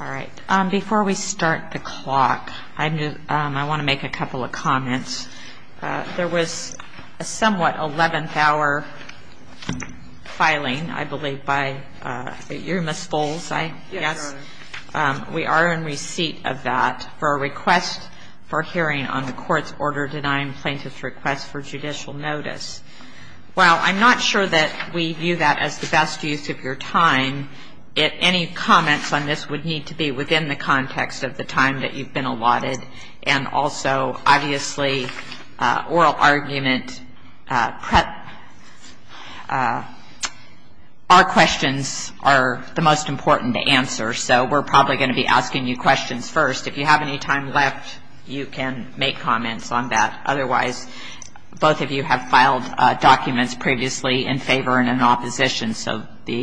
All right. Before we start the clock, I want to make a couple of comments. There was a somewhat 11th hour filing, I believe, by you, Ms. Foles, I guess. Yes, Your Honor. We are in receipt of that for a request for hearing on the court's order denying plaintiff's request for judicial notice. While I'm not sure that we view that as the best use of your time, any comments on this would need to be within the context of the time that you've been allotted. And also, obviously, oral argument prep. Our questions are the most important to answer, so we're probably going to be asking you questions first. If you have any time left, you can make comments on that. Otherwise, both of you have filed documents previously in favor and in opposition, so the,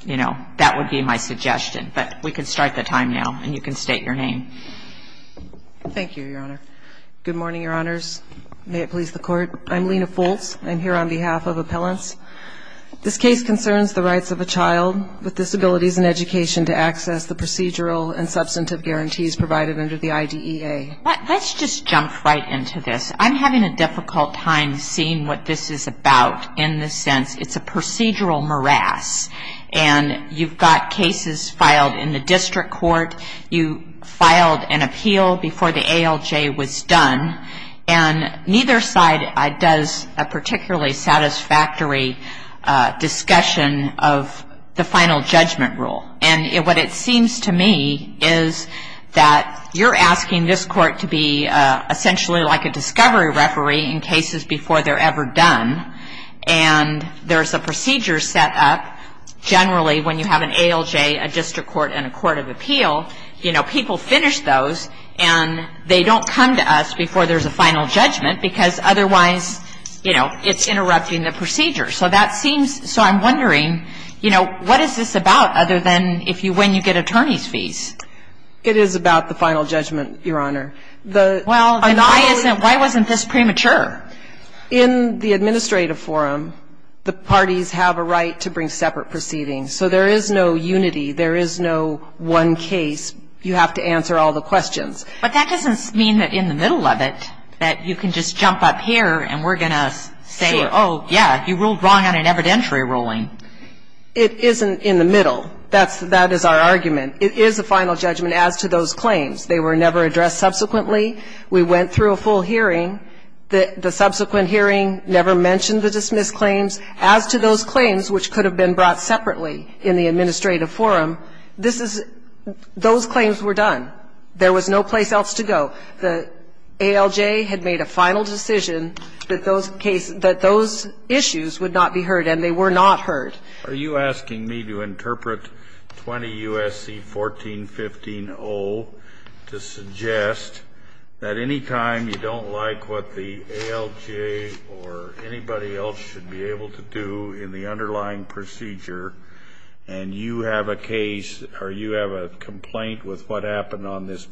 you know, that would be my suggestion. But we can start the time now, and you can state your name. Thank you, Your Honor. Good morning, Your Honors. May it please the Court. I'm Lena Foles. I'm here on behalf of Appellants. This case concerns the rights of a child with disabilities and education to access the procedural and substantive guarantees provided under the IDEA. Let's just jump right into this. I'm having a difficult time seeing what this is about in the sense it's a procedural morass, and you've got cases filed in the district court. You filed an appeal before the ALJ was done, and neither side does a particularly satisfactory discussion of the final judgment rule. And what it seems to me is that you're asking this court to be essentially like a discovery referee in cases before they're ever done, and there's a procedure set up generally when you have an ALJ, a district court, and a court of appeal. You know, people finish those, and they don't come to us before there's a final judgment because otherwise, you know, it's interrupting the procedure. So that seems, so I'm wondering, you know, what is this about other than if you win, you get attorney's fees? It is about the final judgment, Your Honor. Well, then why isn't, why wasn't this premature? In the administrative forum, the parties have a right to bring separate proceedings. So there is no unity. There is no one case. You have to answer all the questions. But that doesn't mean that in the middle of it that you can just jump up here and we're going to say, oh, yeah, you ruled wrong on an evidentiary ruling. It isn't in the middle. That's, that is our argument. It is a final judgment as to those claims. They were never addressed subsequently. We went through a full hearing. The subsequent hearing never mentioned the dismissed claims. As to those claims which could have been brought separately in the administrative forum, this is, those claims were done. There was no place else to go. The ALJ had made a final decision that those cases, that those issues would not be heard, and they were not heard. Are you asking me to interpret 20 U.S.C. 1415-O to suggest that any time you don't like what the ALJ or anybody else should be able to do in the underlying procedure and you have a case or you have a complaint with what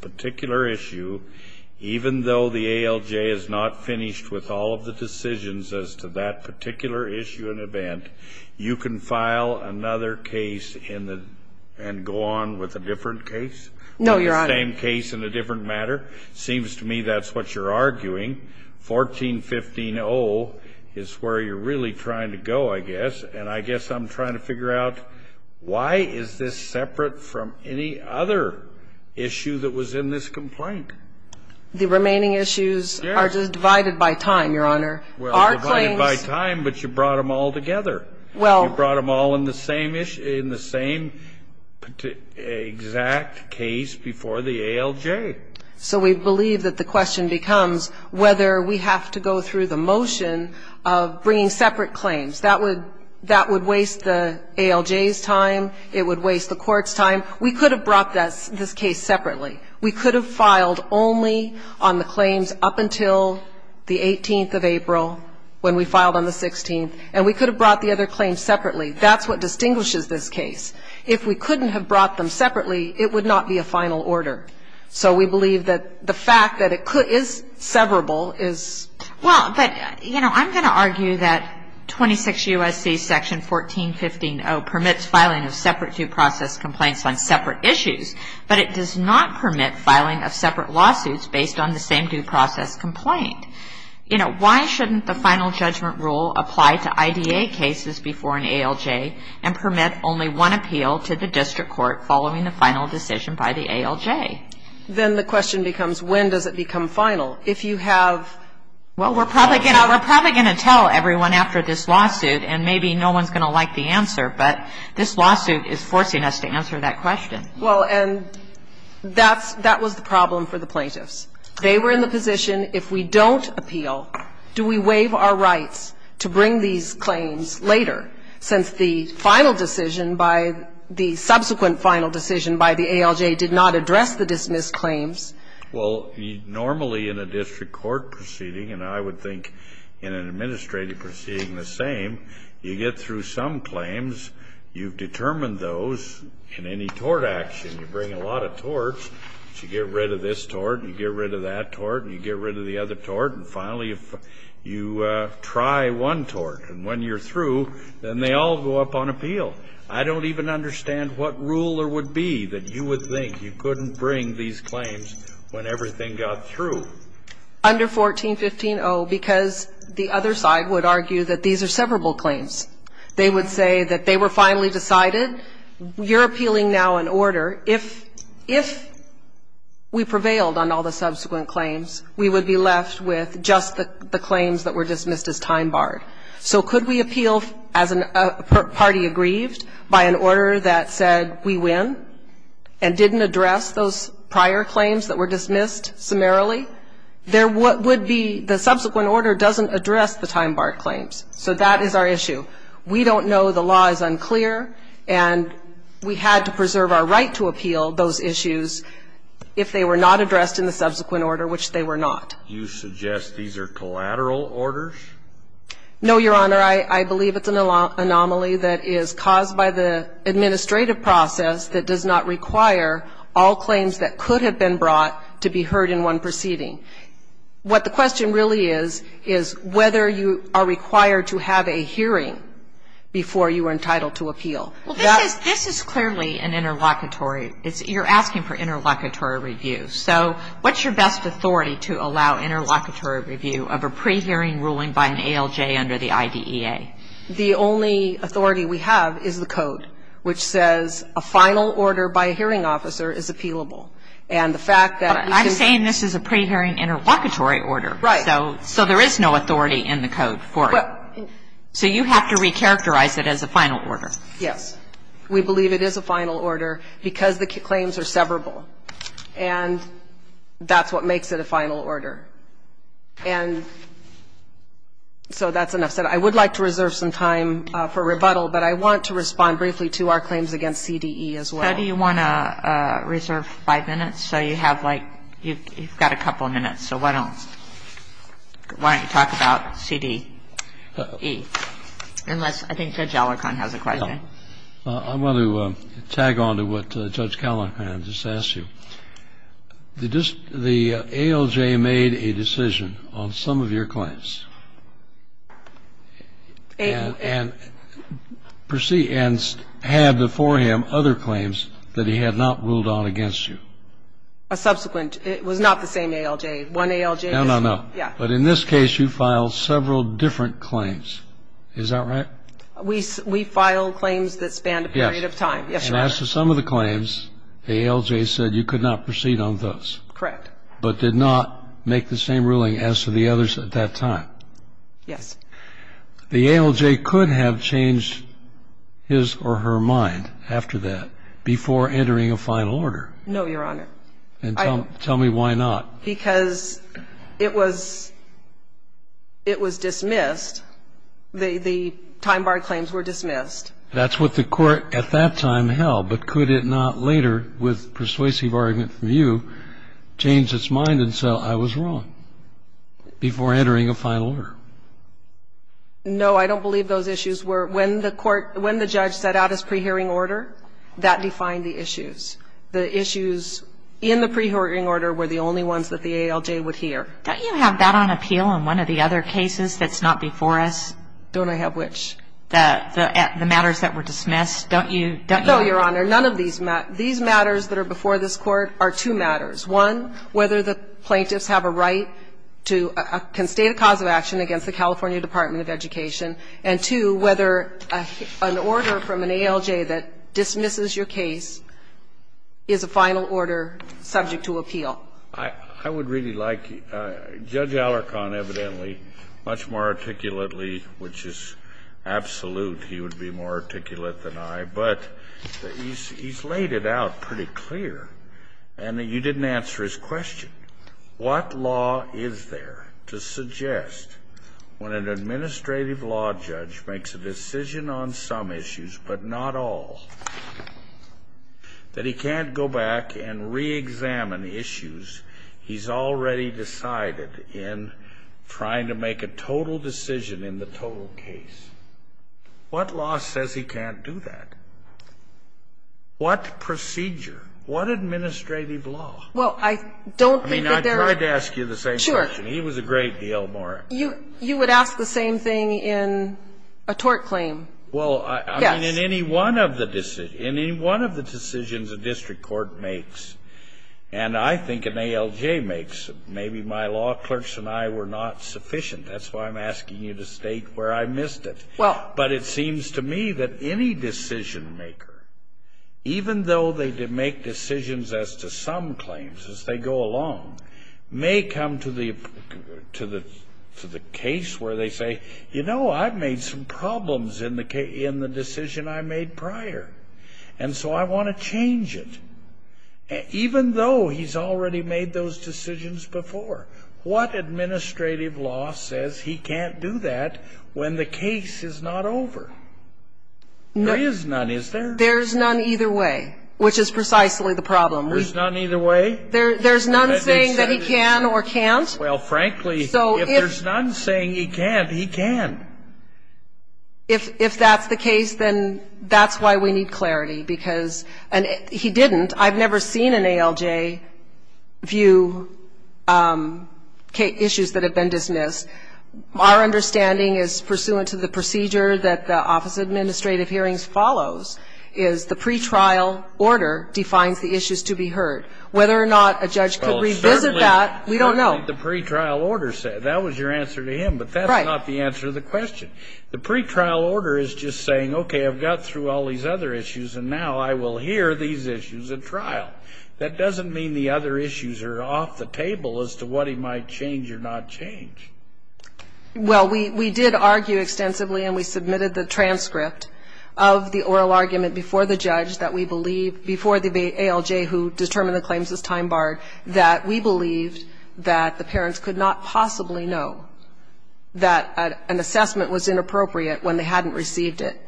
particular issue, even though the ALJ is not finished with all of the decisions as to that particular issue and event, you can file another case in the, and go on with a different case? No, Your Honor. Same case in a different matter? Seems to me that's what you're arguing. 1415-O is where you're really trying to go, I guess, and I guess I'm trying to figure out why is this separate from any other issue that was in this complaint? The remaining issues are just divided by time, Your Honor. Well, divided by time, but you brought them all together. You brought them all in the same exact case before the ALJ. So we believe that the question becomes whether we have to go through the motion of bringing separate claims. That would waste the ALJ's time. It would waste the court's time. We could have brought this case separately. We could have filed only on the claims up until the 18th of April when we filed on the 16th, and we could have brought the other claims separately. That's what distinguishes this case. If we couldn't have brought them separately, it would not be a final order. So we believe that the fact that it is severable is. Well, but, you know, I'm going to argue that 26 U.S.C. Section 1415-O permits filing of separate due process complaints on separate issues, but it does not permit filing of separate lawsuits based on the same due process complaint. You know, why shouldn't the final judgment rule apply to IDA cases before an ALJ and permit only one appeal to the district court following the final decision by the ALJ? Then the question becomes when does it become final? Well, we're probably going to tell everyone after this lawsuit, and maybe no one's going to like the answer, but this lawsuit is forcing us to answer that question. Well, and that was the problem for the plaintiffs. They were in the position if we don't appeal, do we waive our rights to bring these claims later, since the final decision by the subsequent final decision by the ALJ did not address the dismissed claims? Well, normally in a district court proceeding, and I would think in an administrative proceeding the same, you get through some claims. You've determined those in any tort action. You bring a lot of torts. You get rid of this tort, and you get rid of that tort, and you get rid of the other tort, and finally you try one tort, and when you're through, then they all go up on appeal. I don't even understand what rule there would be that you would think you couldn't bring these claims when everything got through. Under 1415-0, because the other side would argue that these are severable claims. They would say that they were finally decided. You're appealing now in order. If we prevailed on all the subsequent claims, we would be left with just the claims that were dismissed as time barred. So could we appeal as a party aggrieved by an order that said we win and didn't address those prior claims that were dismissed summarily? There would be the subsequent order doesn't address the time barred claims. So that is our issue. We don't know. The law is unclear, and we had to preserve our right to appeal those issues if they were not addressed in the subsequent order, which they were not. You suggest these are collateral orders? No, Your Honor. I believe it's an anomaly that is caused by the administrative process that does not require all claims that could have been brought to be heard in one proceeding. What the question really is, is whether you are required to have a hearing before you are entitled to appeal. Well, this is clearly an interlocutory. You're asking for interlocutory review. So what's your best authority to allow interlocutory review of a pre-hearing ruling by an ALJ under the IDEA? The only authority we have is the code, which says a final order by a hearing officer is appealable. And the fact that we can say this is a pre-hearing interlocutory order. Right. So there is no authority in the code for it. So you have to recharacterize it as a final order. Yes. We believe it is a final order because the claims are severable. And that's what makes it a final order. And so that's enough said. I would like to reserve some time for rebuttal, but I want to respond briefly to our claims against CDE as well. How do you want to reserve five minutes? So you have, like, you've got a couple of minutes. So why don't you talk about CDE, unless I think Judge Alicorn has a question. Well, I want to tag on to what Judge Callahan just asked you. The ALJ made a decision on some of your claims. And had before him other claims that he had not ruled out against you. A subsequent. It was not the same ALJ. One ALJ. No, no, no. Yeah. But in this case, you filed several different claims. Is that right? We filed claims that spanned a period of time. Yes. And as to some of the claims, the ALJ said you could not proceed on those. Correct. But did not make the same ruling as to the others at that time. Yes. The ALJ could have changed his or her mind after that before entering a final order. No, Your Honor. And tell me why not. Because it was dismissed. The time-barred claims were dismissed. That's what the Court at that time held. But could it not later, with persuasive argument from you, change its mind and say, I was wrong before entering a final order? No, I don't believe those issues were. When the court, when the judge set out his pre-hearing order, that defined the issues. The issues in the pre-hearing order were the only ones that the ALJ would hear. Don't you have that on appeal in one of the other cases that's not before us? Don't I have which? The matters that were dismissed. Don't you? No, Your Honor. None of these matters that are before this Court are two matters. One, whether the plaintiffs have a right to constate a cause of action against the California Department of Education. And two, whether an order from an ALJ that dismisses your case is a final order subject to appeal. I would really like Judge Alarcon, evidently, much more articulately, which is absolute, he would be more articulate than I, but he's laid it out pretty clear. And you didn't answer his question. What law is there to suggest when an administrative law judge makes a decision on some issues, but not all, that he can't go back and reexamine issues he's already decided in trying to make a total decision in the total case? What law says he can't do that? What procedure? What administrative law? Well, I don't think that there are. I mean, I tried to ask you the same question. Sure. He was a great deal more. You would ask the same thing in a tort claim. Well, I mean, in any one of the decisions a district court makes, and I think an ALJ makes, maybe my law clerks and I were not sufficient. That's why I'm asking you to state where I missed it. Well. But it seems to me that any decision maker, even though they make decisions as to some claims as they go along, may come to the case where they say, you know, I've made some problems in the decision I made prior, and so I want to change it. Even though he's already made those decisions before, what administrative law says he can't do that when the case is not over? There is none, is there? There's none either way, which is precisely the problem. There's none either way? There's none saying that he can or can't. Well, frankly, if there's none saying he can't, he can. If that's the case, then that's why we need clarity, because he didn't. And I've never seen an ALJ view issues that have been dismissed. Our understanding is, pursuant to the procedure that the Office of Administrative Hearings follows, is the pretrial order defines the issues to be heard. Whether or not a judge could revisit that, we don't know. Well, it's certainly what the pretrial order said. That was your answer to him. Right. But that's not the answer to the question. The pretrial order is just saying, okay, I've got through all these other issues, and now I will hear these issues at trial. That doesn't mean the other issues are off the table as to what he might change or not change. Well, we did argue extensively, and we submitted the transcript of the oral argument before the judge that we believed before the ALJ, who determined the claims as time barred, that we believed that the parents could not possibly know that an assessment was inappropriate when they hadn't received it.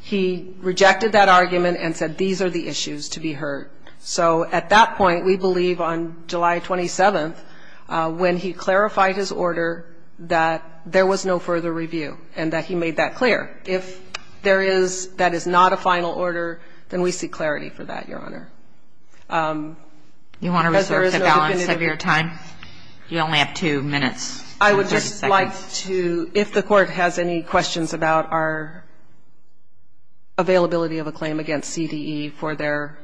He rejected that argument and said, these are the issues to be heard. So at that point, we believe on July 27th, when he clarified his order, that there was no further review and that he made that clear. If there is that is not a final order, then we seek clarity for that, Your Honor. You want to reserve the balance of your time? You only have two minutes. I would just like to, if the Court has any questions about our availability of a claim against CDE for their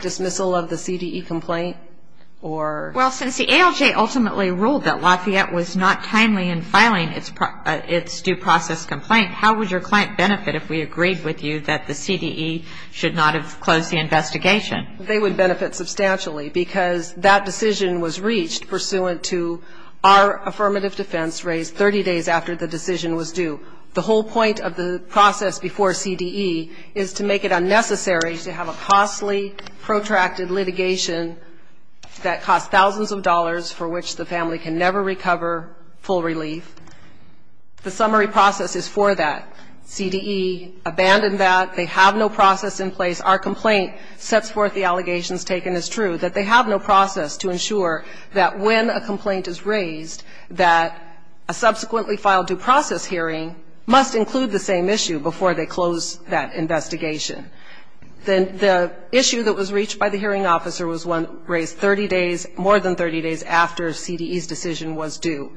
dismissal of the CDE complaint or Well, since the ALJ ultimately ruled that Lafayette was not timely in filing its due process complaint, how would your client benefit if we agreed with you that the CDE should not have closed the investigation? They would benefit substantially because that decision was reached pursuant to our affirmative defense raised 30 days after the decision was due. The whole point of the process before CDE is to make it unnecessary to have a costly, protracted litigation that costs thousands of dollars for which the family can never recover full relief. The summary process is for that. CDE abandoned that. They have no process in place. Our complaint sets forth the allegations taken as true, that they have no process to ensure that when a complaint is raised, that a subsequently filed due process hearing must include the same issue before they close that investigation. The issue that was reached by the hearing officer was one raised 30 days, more than 30 days after CDE's decision was due,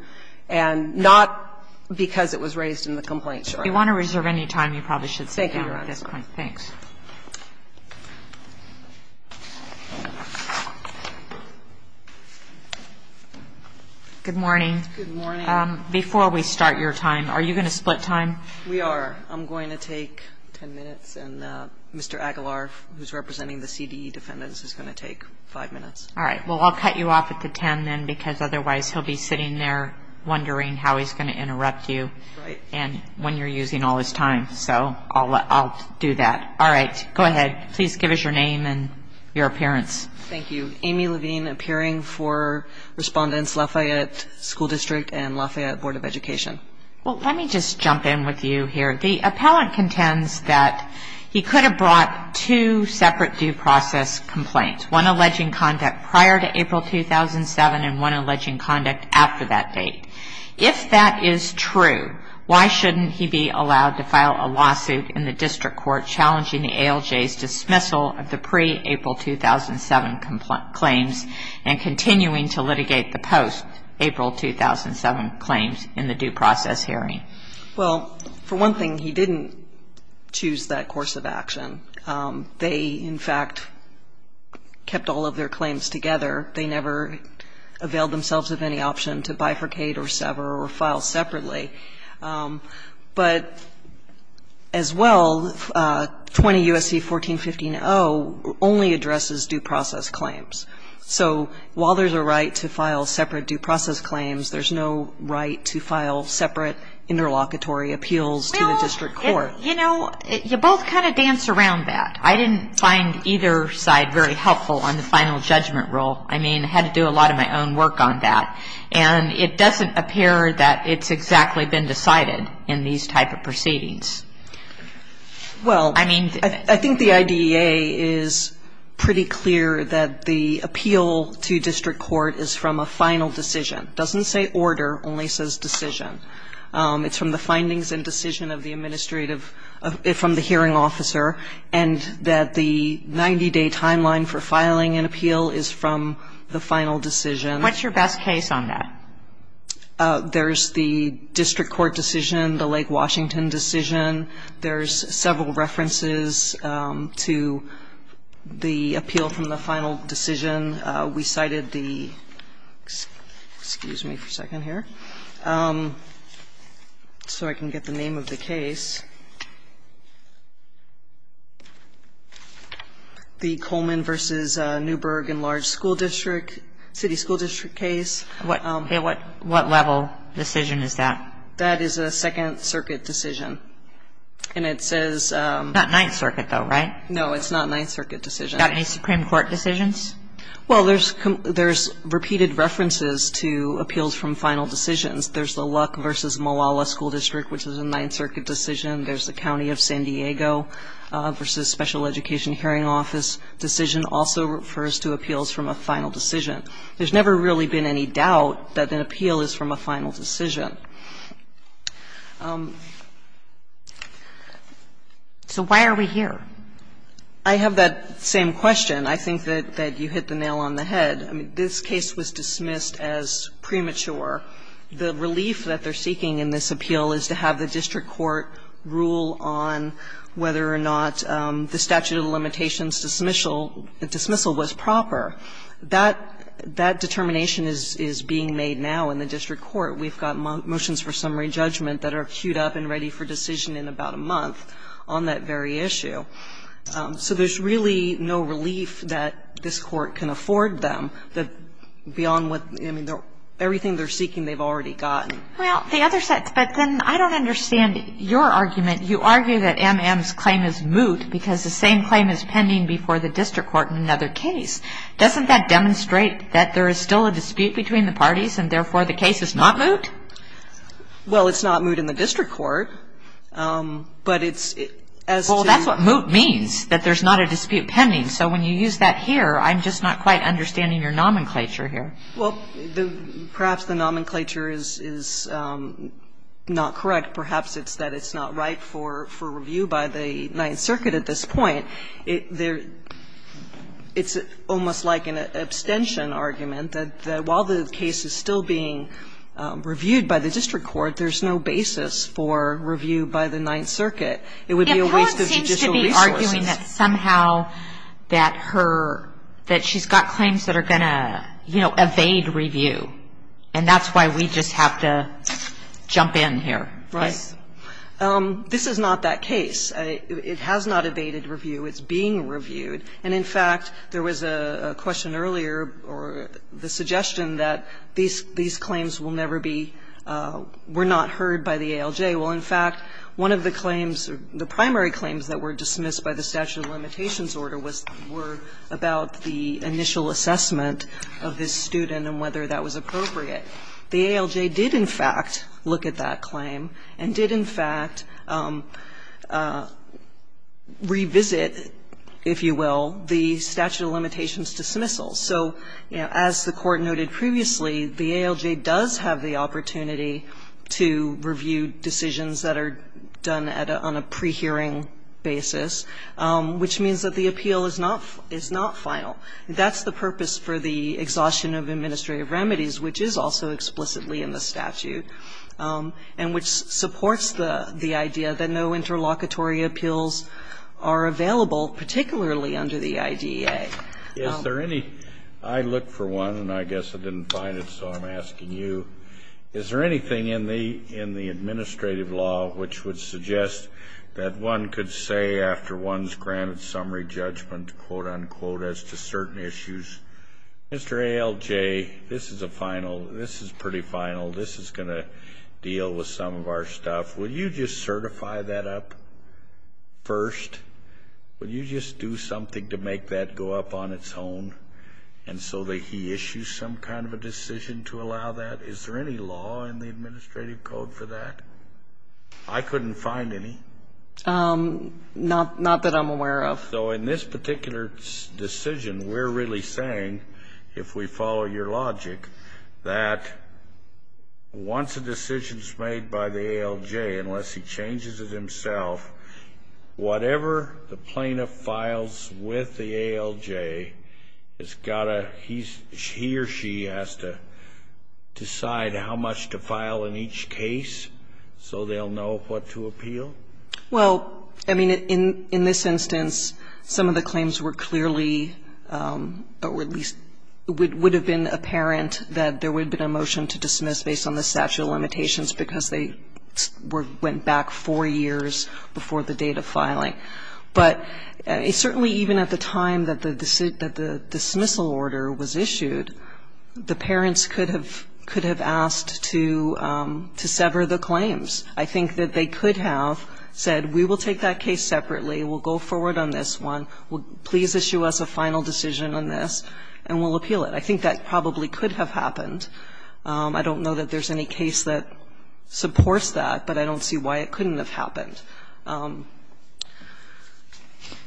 and not because it was raised in the complaint short. If you want to reserve any time, you probably should sit here at this point. Thank you. Good morning. Good morning. Before we start your time, are you going to split time? We are. I'm going to take 10 minutes, and Mr. Aguilar, who's representing the CDE defendants, is going to take 5 minutes. All right. Well, I'll cut you off at the 10 then, because otherwise he'll be sitting there wondering how he's going to interrupt you. Right. And when you're using all his time. So I'll do that. All right. Go ahead. Please give us your name and your appearance. Thank you. Amy Levine, appearing for Respondents, Lafayette School District and Lafayette Board of Education. Well, let me just jump in with you here. The appellant contends that he could have brought two separate due process complaints, one alleging conduct prior to April 2007 and one alleging conduct after that date. If that is true, why shouldn't he be allowed to file a lawsuit in the district court challenging the ALJ's dismissal of the pre-April 2007 claims and continuing to litigate the post-April 2007 claims in the due process hearing? Well, for one thing, he didn't choose that course of action. They, in fact, kept all of their claims together. They never availed themselves of any option to bifurcate or sever or file separately. But as well, 20 U.S.C. 1415-0 only addresses due process claims. So while there's a right to file separate due process claims, there's no right to file separate interlocutory appeals to the district court. Well, you know, you both kind of dance around that. I didn't find either side very helpful on the final judgment rule. I mean, I had to do a lot of my own work on that. And it doesn't appear that it's exactly been decided in these type of proceedings. Well, I think the IDEA is pretty clear that the appeal to district court is from a final decision. It doesn't say order, it only says decision. It's from the findings and decision of the administrative, from the hearing officer. And that the 90-day timeline for filing an appeal is from the final decision. What's your best case on that? There's the district court decision, the Lake Washington decision. There's several references to the appeal from the final decision. We cited the – excuse me for a second here so I can get the name of the case. The Coleman v. Newberg and Large School District, city school district case. What level decision is that? That is a Second Circuit decision. And it says – Not Ninth Circuit, though, right? No, it's not a Ninth Circuit decision. Not any Supreme Court decisions? Well, there's repeated references to appeals from final decisions. There's the Luck v. Malala School District, which is a Ninth Circuit decision. There's the County of San Diego v. Special Education Hearing Office decision also refers to appeals from a final decision. There's never really been any doubt that an appeal is from a final decision. So why are we here? I have that same question. I think that you hit the nail on the head. I mean, this case was dismissed as premature. The relief that they're seeking in this appeal is to have the district court rule on whether or not the statute of limitations dismissal was proper. That determination is being made now in the district court. We've got motions for summary judgment that are queued up and ready for decision in about a month on that very issue. So there's really no relief that this court can afford them that beyond what – I mean, everything they're seeking, they've already gotten. Well, the other – but then I don't understand your argument. You argue that M.M.'s claim is moot because the same claim is pending before the district court in another case. Doesn't that demonstrate that there is still a dispute between the parties and, therefore, the case is not moot? Well, it's not moot in the district court, but it's as to – Well, that's what moot means, that there's not a dispute pending. So when you use that here, I'm just not quite understanding your nomenclature here. Well, perhaps the nomenclature is not correct. Perhaps it's that it's not right for review by the Ninth Circuit at this point. It's almost like an abstention argument that while the case is still being reviewed by the district court, there's no basis for review by the Ninth Circuit. It would be a waste of judicial resources. But you're arguing that somehow that her – that she's got claims that are going to, you know, evade review. And that's why we just have to jump in here. Right. This is not that case. It has not evaded review. It's being reviewed. And, in fact, there was a question earlier or the suggestion that these claims will never be – were not heard by the ALJ. Well, in fact, one of the claims, the primary claims that were dismissed by the statute of limitations order was about the initial assessment of this student and whether that was appropriate. The ALJ did, in fact, look at that claim and did, in fact, revisit, if you will, the statute of limitations dismissal. So, you know, as the Court noted previously, the ALJ does have the opportunity to review decisions that are done on a pre-hearing basis, which means that the appeal is not – is not final. That's the purpose for the exhaustion of administrative remedies, which is also explicitly in the statute and which supports the idea that no interlocutory appeals are available, particularly under the IDEA. Is there any – I looked for one, and I guess I didn't find it, so I'm asking you, is there anything in the – in the administrative law which would suggest that one could say after one's granted summary judgment, quote, unquote, as to certain issues, Mr. ALJ, this is a final – this is pretty final. This is going to deal with some of our stuff. Will you just certify that up first? Will you just do something to make that go up on its own and so that he issues some kind of a decision to allow that? Is there any law in the administrative code for that? I couldn't find any. Not that I'm aware of. So in this particular decision, we're really saying, if we follow your logic, that once a decision's made by the ALJ, unless he changes it himself, whatever the plaintiff files with the ALJ has got to – he or she has to decide how much to file in each case so they'll know what to appeal? Well, I mean, in this instance, some of the claims were clearly – or at least would have been apparent that there would have been a motion to dismiss based on the statute of limitations because they went back four years before the date of filing. But certainly even at the time that the dismissal order was issued, the parents could have asked to sever the claims. I think that they could have said, we will take that case separately, we'll go forward on this one, please issue us a final decision on this, and we'll appeal it. I think that probably could have happened. I don't know that there's any case that supports that, but I don't see why it couldn't have happened.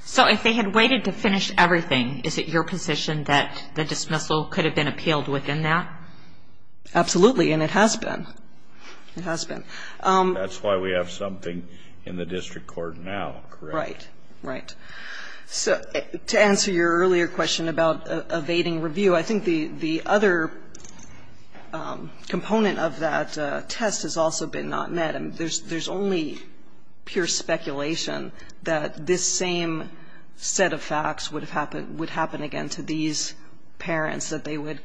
So if they had waited to finish everything, is it your position that the dismissal could have been appealed within that? Absolutely. And it has been. It has been. That's why we have something in the district court now, correct? Right. Right. So to answer your earlier question about evading review, I think the other component of that test has also been not met. There's only pure speculation that this same set of facts would happen again to these parents, that they would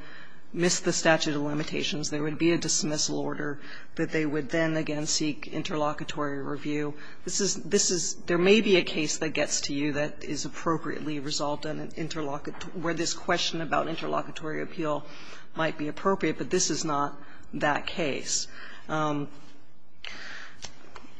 miss the statute of limitations, there would be a dismissal order, that they would then again seek interlocutory review. There may be a case that gets to you that is appropriately resolved where this question about interlocutory appeal might be appropriate, but this is not that case. Well,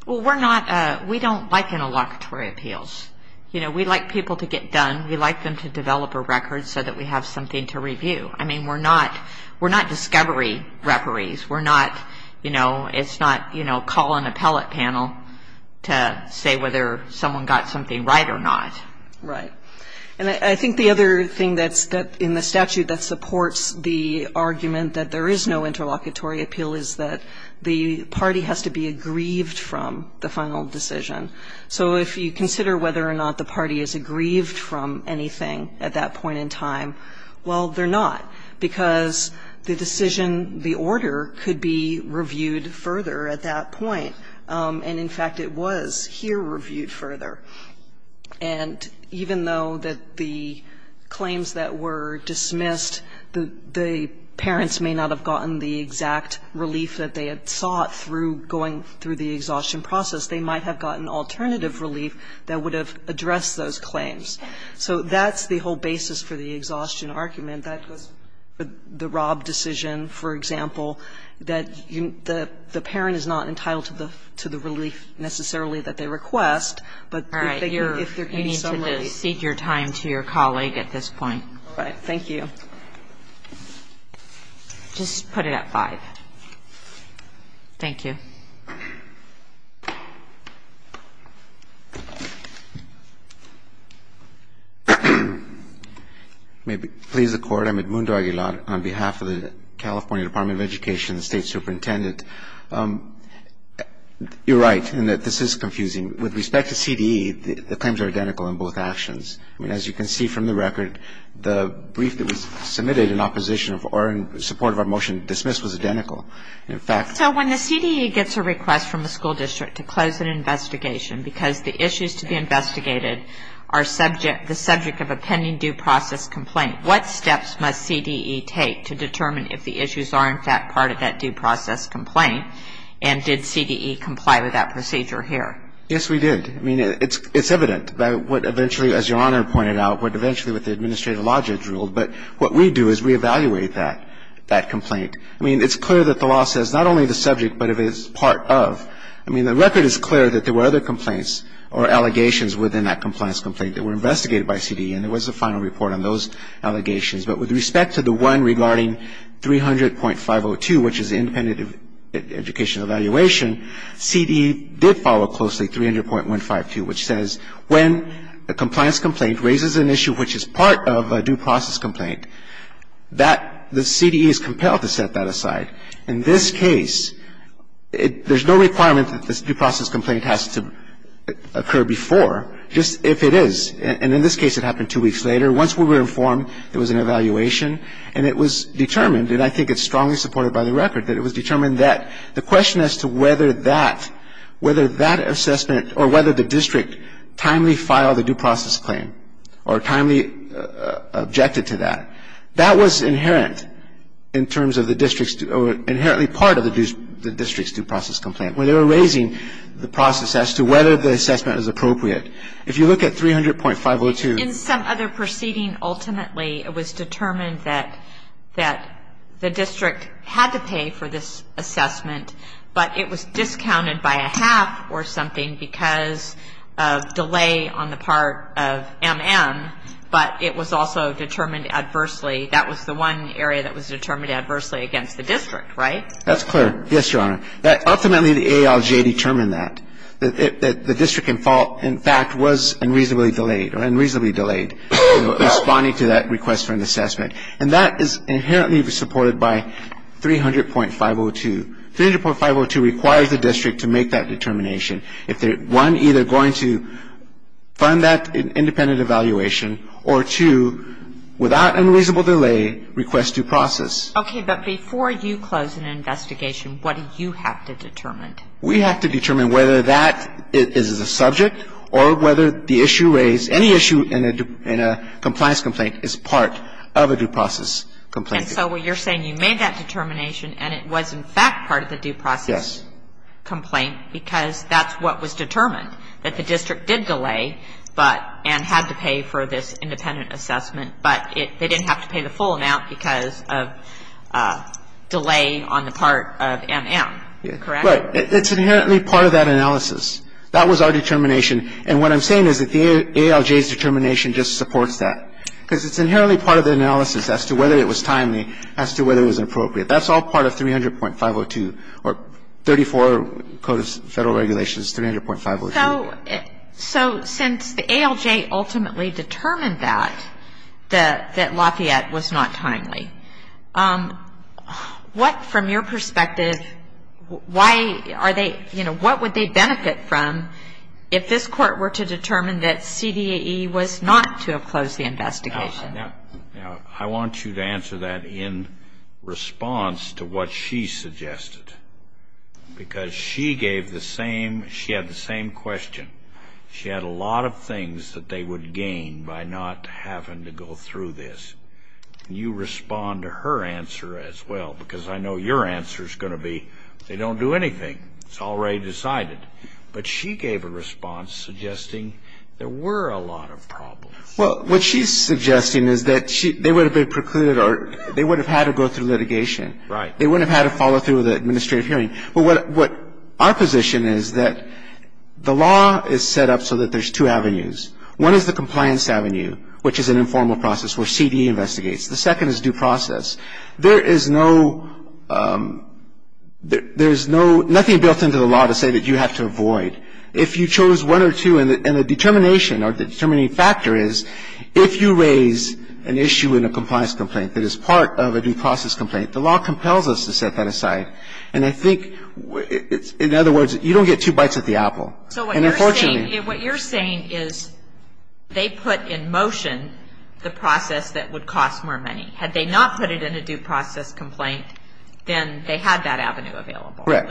we're not, we don't like interlocutory appeals. You know, we like people to get done. We like them to develop a record so that we have something to review. I mean, we're not, we're not discovery referees. We're not, you know, it's not, you know, call an appellate panel to say whether someone got something right or not. Right. And I think the other thing that's in the statute that supports the argument that there is no interlocutory appeal is that the party has to be aggrieved from the final decision. So if you consider whether or not the party is aggrieved from anything at that point in time, well, they're not, because the decision, the order could be reviewed further at that point. And, in fact, it was here reviewed further. And even though that the claims that were dismissed, the parents may not have been aggrieved, they may not have gotten the exact relief that they had sought through going through the exhaustion process. They might have gotten alternative relief that would have addressed those claims. So that's the whole basis for the exhaustion argument. That was the Robb decision, for example, that the parent is not entitled to the relief necessarily that they request, but if they're getting some relief. Thank you. Thank you. Please seek your time to your colleague at this point. All right. Thank you. Just put it at 5. Thank you. May it please the Court. I'm Edmundo Aguilar on behalf of the California Department of Education State Superintendent. You're right in that this is confusing. With respect to CDE, the claims are identical in both actions. I mean, as you can see from the record, the brief that was submitted in opposition or in support of our motion dismissed was identical. In fact ‑‑ So when the CDE gets a request from the school district to close an investigation because the issues to be investigated are the subject of a pending due process complaint, what steps must CDE take to determine if the issues are in fact part of that due process complaint and did CDE comply with that procedure here? Yes, we did. I mean, it's evident by what eventually, as Your Honor pointed out, what eventually the Administrative Logics ruled, but what we do is we evaluate that complaint. I mean, it's clear that the law says not only the subject, but it is part of. I mean, the record is clear that there were other complaints or allegations within that compliance complaint that were investigated by CDE and there was a final report on those allegations. But with respect to the one regarding 300.502, which is independent education evaluation, CDE did follow closely 300.152, which says when a compliance complaint raises an issue which is part of a due process complaint, that the CDE is compelled to set that aside. In this case, there's no requirement that this due process complaint has to occur before, just if it is. And in this case, it happened two weeks later. Once we were informed there was an evaluation and it was determined, and I think it's strongly supported by the record, that it was determined that the question as to whether that assessment or whether the district timely filed a due process claim or timely objected to that, that was inherent in terms of the district's or inherently part of the district's due process complaint. When they were raising the process as to whether the assessment was appropriate, if you look at 300.502. In some other proceeding, ultimately it was determined that the district had to pay for this assessment, but it was discounted by a half or something because of delay on the part of MM, but it was also determined adversely. That was the one area that was determined adversely against the district, right? That's clear. Yes, Your Honor. Ultimately, the ALJ determined that. That the district, in fact, was unreasonably delayed or unreasonably delayed responding to that request for an assessment. And that is inherently supported by 300.502. 300.502 requires the district to make that determination. One, either going to fund that independent evaluation, or two, without unreasonable delay, request due process. Okay, but before you close an investigation, what do you have to determine? We have to determine whether that is the subject or whether the issue raised, any issue in a compliance complaint is part of a due process complaint. And so what you're saying, you made that determination and it was, in fact, part of the due process complaint because that's what was determined, that the district did delay and had to pay for this independent assessment, but they didn't have to pay the full amount because of delay on the part of MM, correct? Right. It's inherently part of that analysis. That was our determination. And what I'm saying is that the ALJ's determination just supports that. Because it's inherently part of the analysis as to whether it was timely, as to whether it was appropriate. That's all part of 300.502, or 34 Code of Federal Regulations, 300.502. So since the ALJ ultimately determined that, that Lafayette was not timely, what, from your perspective, what would they benefit from if this court were to determine that CDAE was not to have closed the investigation? Now, I want you to answer that in response to what she suggested. Because she gave the same, she had the same question. She had a lot of things that they would gain by not having to go through this. You respond to her answer as well, because I know your answer is going to be they don't do anything. It's already decided. But she gave a response suggesting there were a lot of problems. Well, what she's suggesting is that they would have been precluded or they would have had to go through litigation. Right. They wouldn't have had to follow through with an administrative hearing. But what our position is that the law is set up so that there's two avenues. One is the compliance avenue, which is an informal process where CDAE investigates. The second is due process. There is no, there's no, nothing built into the law to say that you have to avoid. If you chose one or two, and the determination or the determining factor is if you raise an issue in a compliance complaint that is part of a due process complaint, the law compels us to set that aside. And I think, in other words, you don't get two bites at the apple. So what you're saying is they put in motion the process that would cost more money. Had they not put it in a due process complaint, then they had that avenue available. Correct.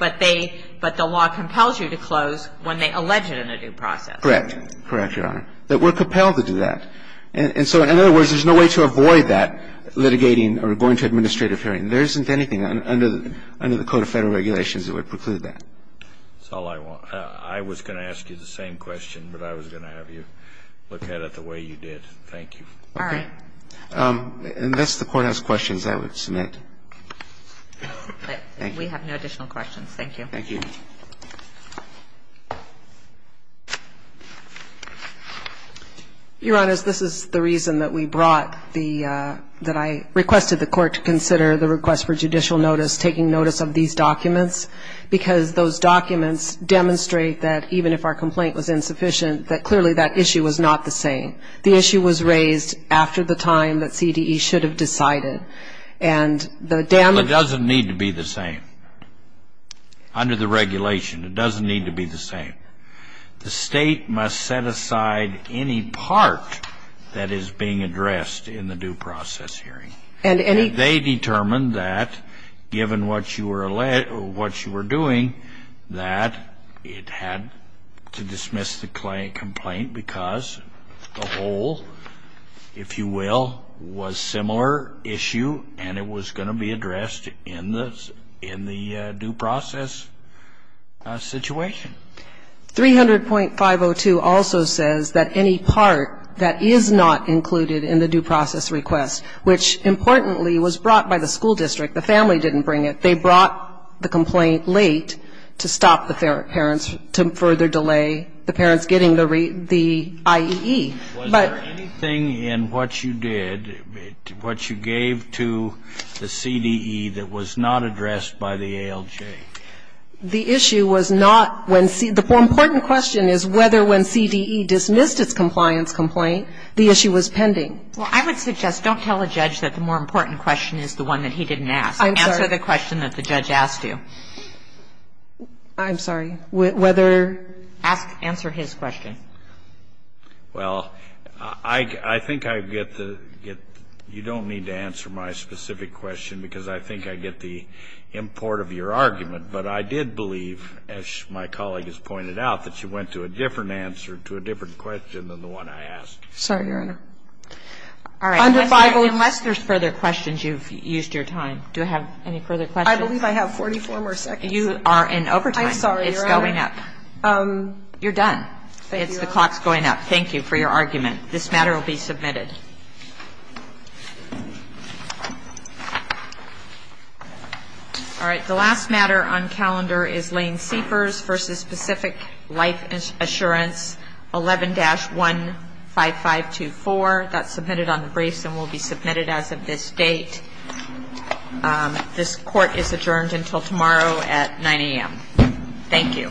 But they, but the law compels you to close when they allege it in a due process. Correct. Correct, Your Honor. That we're compelled to do that. And so, in other words, there's no way to avoid that, litigating or going to administrative hearing. There isn't anything under the Code of Federal Regulations that would preclude that. That's all I want. I was going to ask you the same question, but I was going to have you look at it the way you did. Thank you. All right. Unless the Court has questions, I would submit. We have no additional questions. Thank you. Thank you. Your Honors, this is the reason that we brought the, that I requested the Court to consider the request for judicial notice, taking notice of these documents, because those documents demonstrate that even if our complaint was insufficient, that clearly that issue was not the same. The issue was raised after the time that CDE should have decided. And the damage It doesn't need to be the same. Under the regulation, it doesn't need to be the same. The State must set aside any part that is being addressed in the due process hearing. And any They determined that, given what you were doing, that it had to dismiss the complaint because the whole, if you will, was similar issue, and it was going to be addressed in the due process situation. 300.502 also says that any part that is not included in the due process request, which, importantly, was brought by the school district, the family didn't bring it. They brought the complaint late to stop the parents, to further delay the parents getting the IEE. Was there anything in what you did, what you gave to the CDE, that was not addressed by the ALJ? The issue was not when CDE, the more important question is whether when CDE dismissed its compliance complaint, the issue was pending. Well, I would suggest don't tell a judge that the more important question is the one that he didn't ask. I'm sorry. Answer the question that the judge asked you. I'm sorry. Whether Ask, answer his question. Well, I think I get the, you don't need to answer my specific question because I think I get the import of your argument, but I did believe, as my colleague has pointed out, that you went to a different answer to a different question than the one I asked. Sorry, Your Honor. All right. Unless there's further questions, you've used your time. Do I have any further questions? I believe I have 44 more seconds. You are in overtime. I'm sorry, Your Honor. It's going up. The clock's going up. Thank you for your argument. This matter will be submitted. All right. The last matter on calendar is Lane Seepers v. Pacific Life Assurance 11-15524. That's submitted on the briefs and will be submitted as of this date. This court is adjourned until tomorrow at 9 a.m. Thank you. All rise.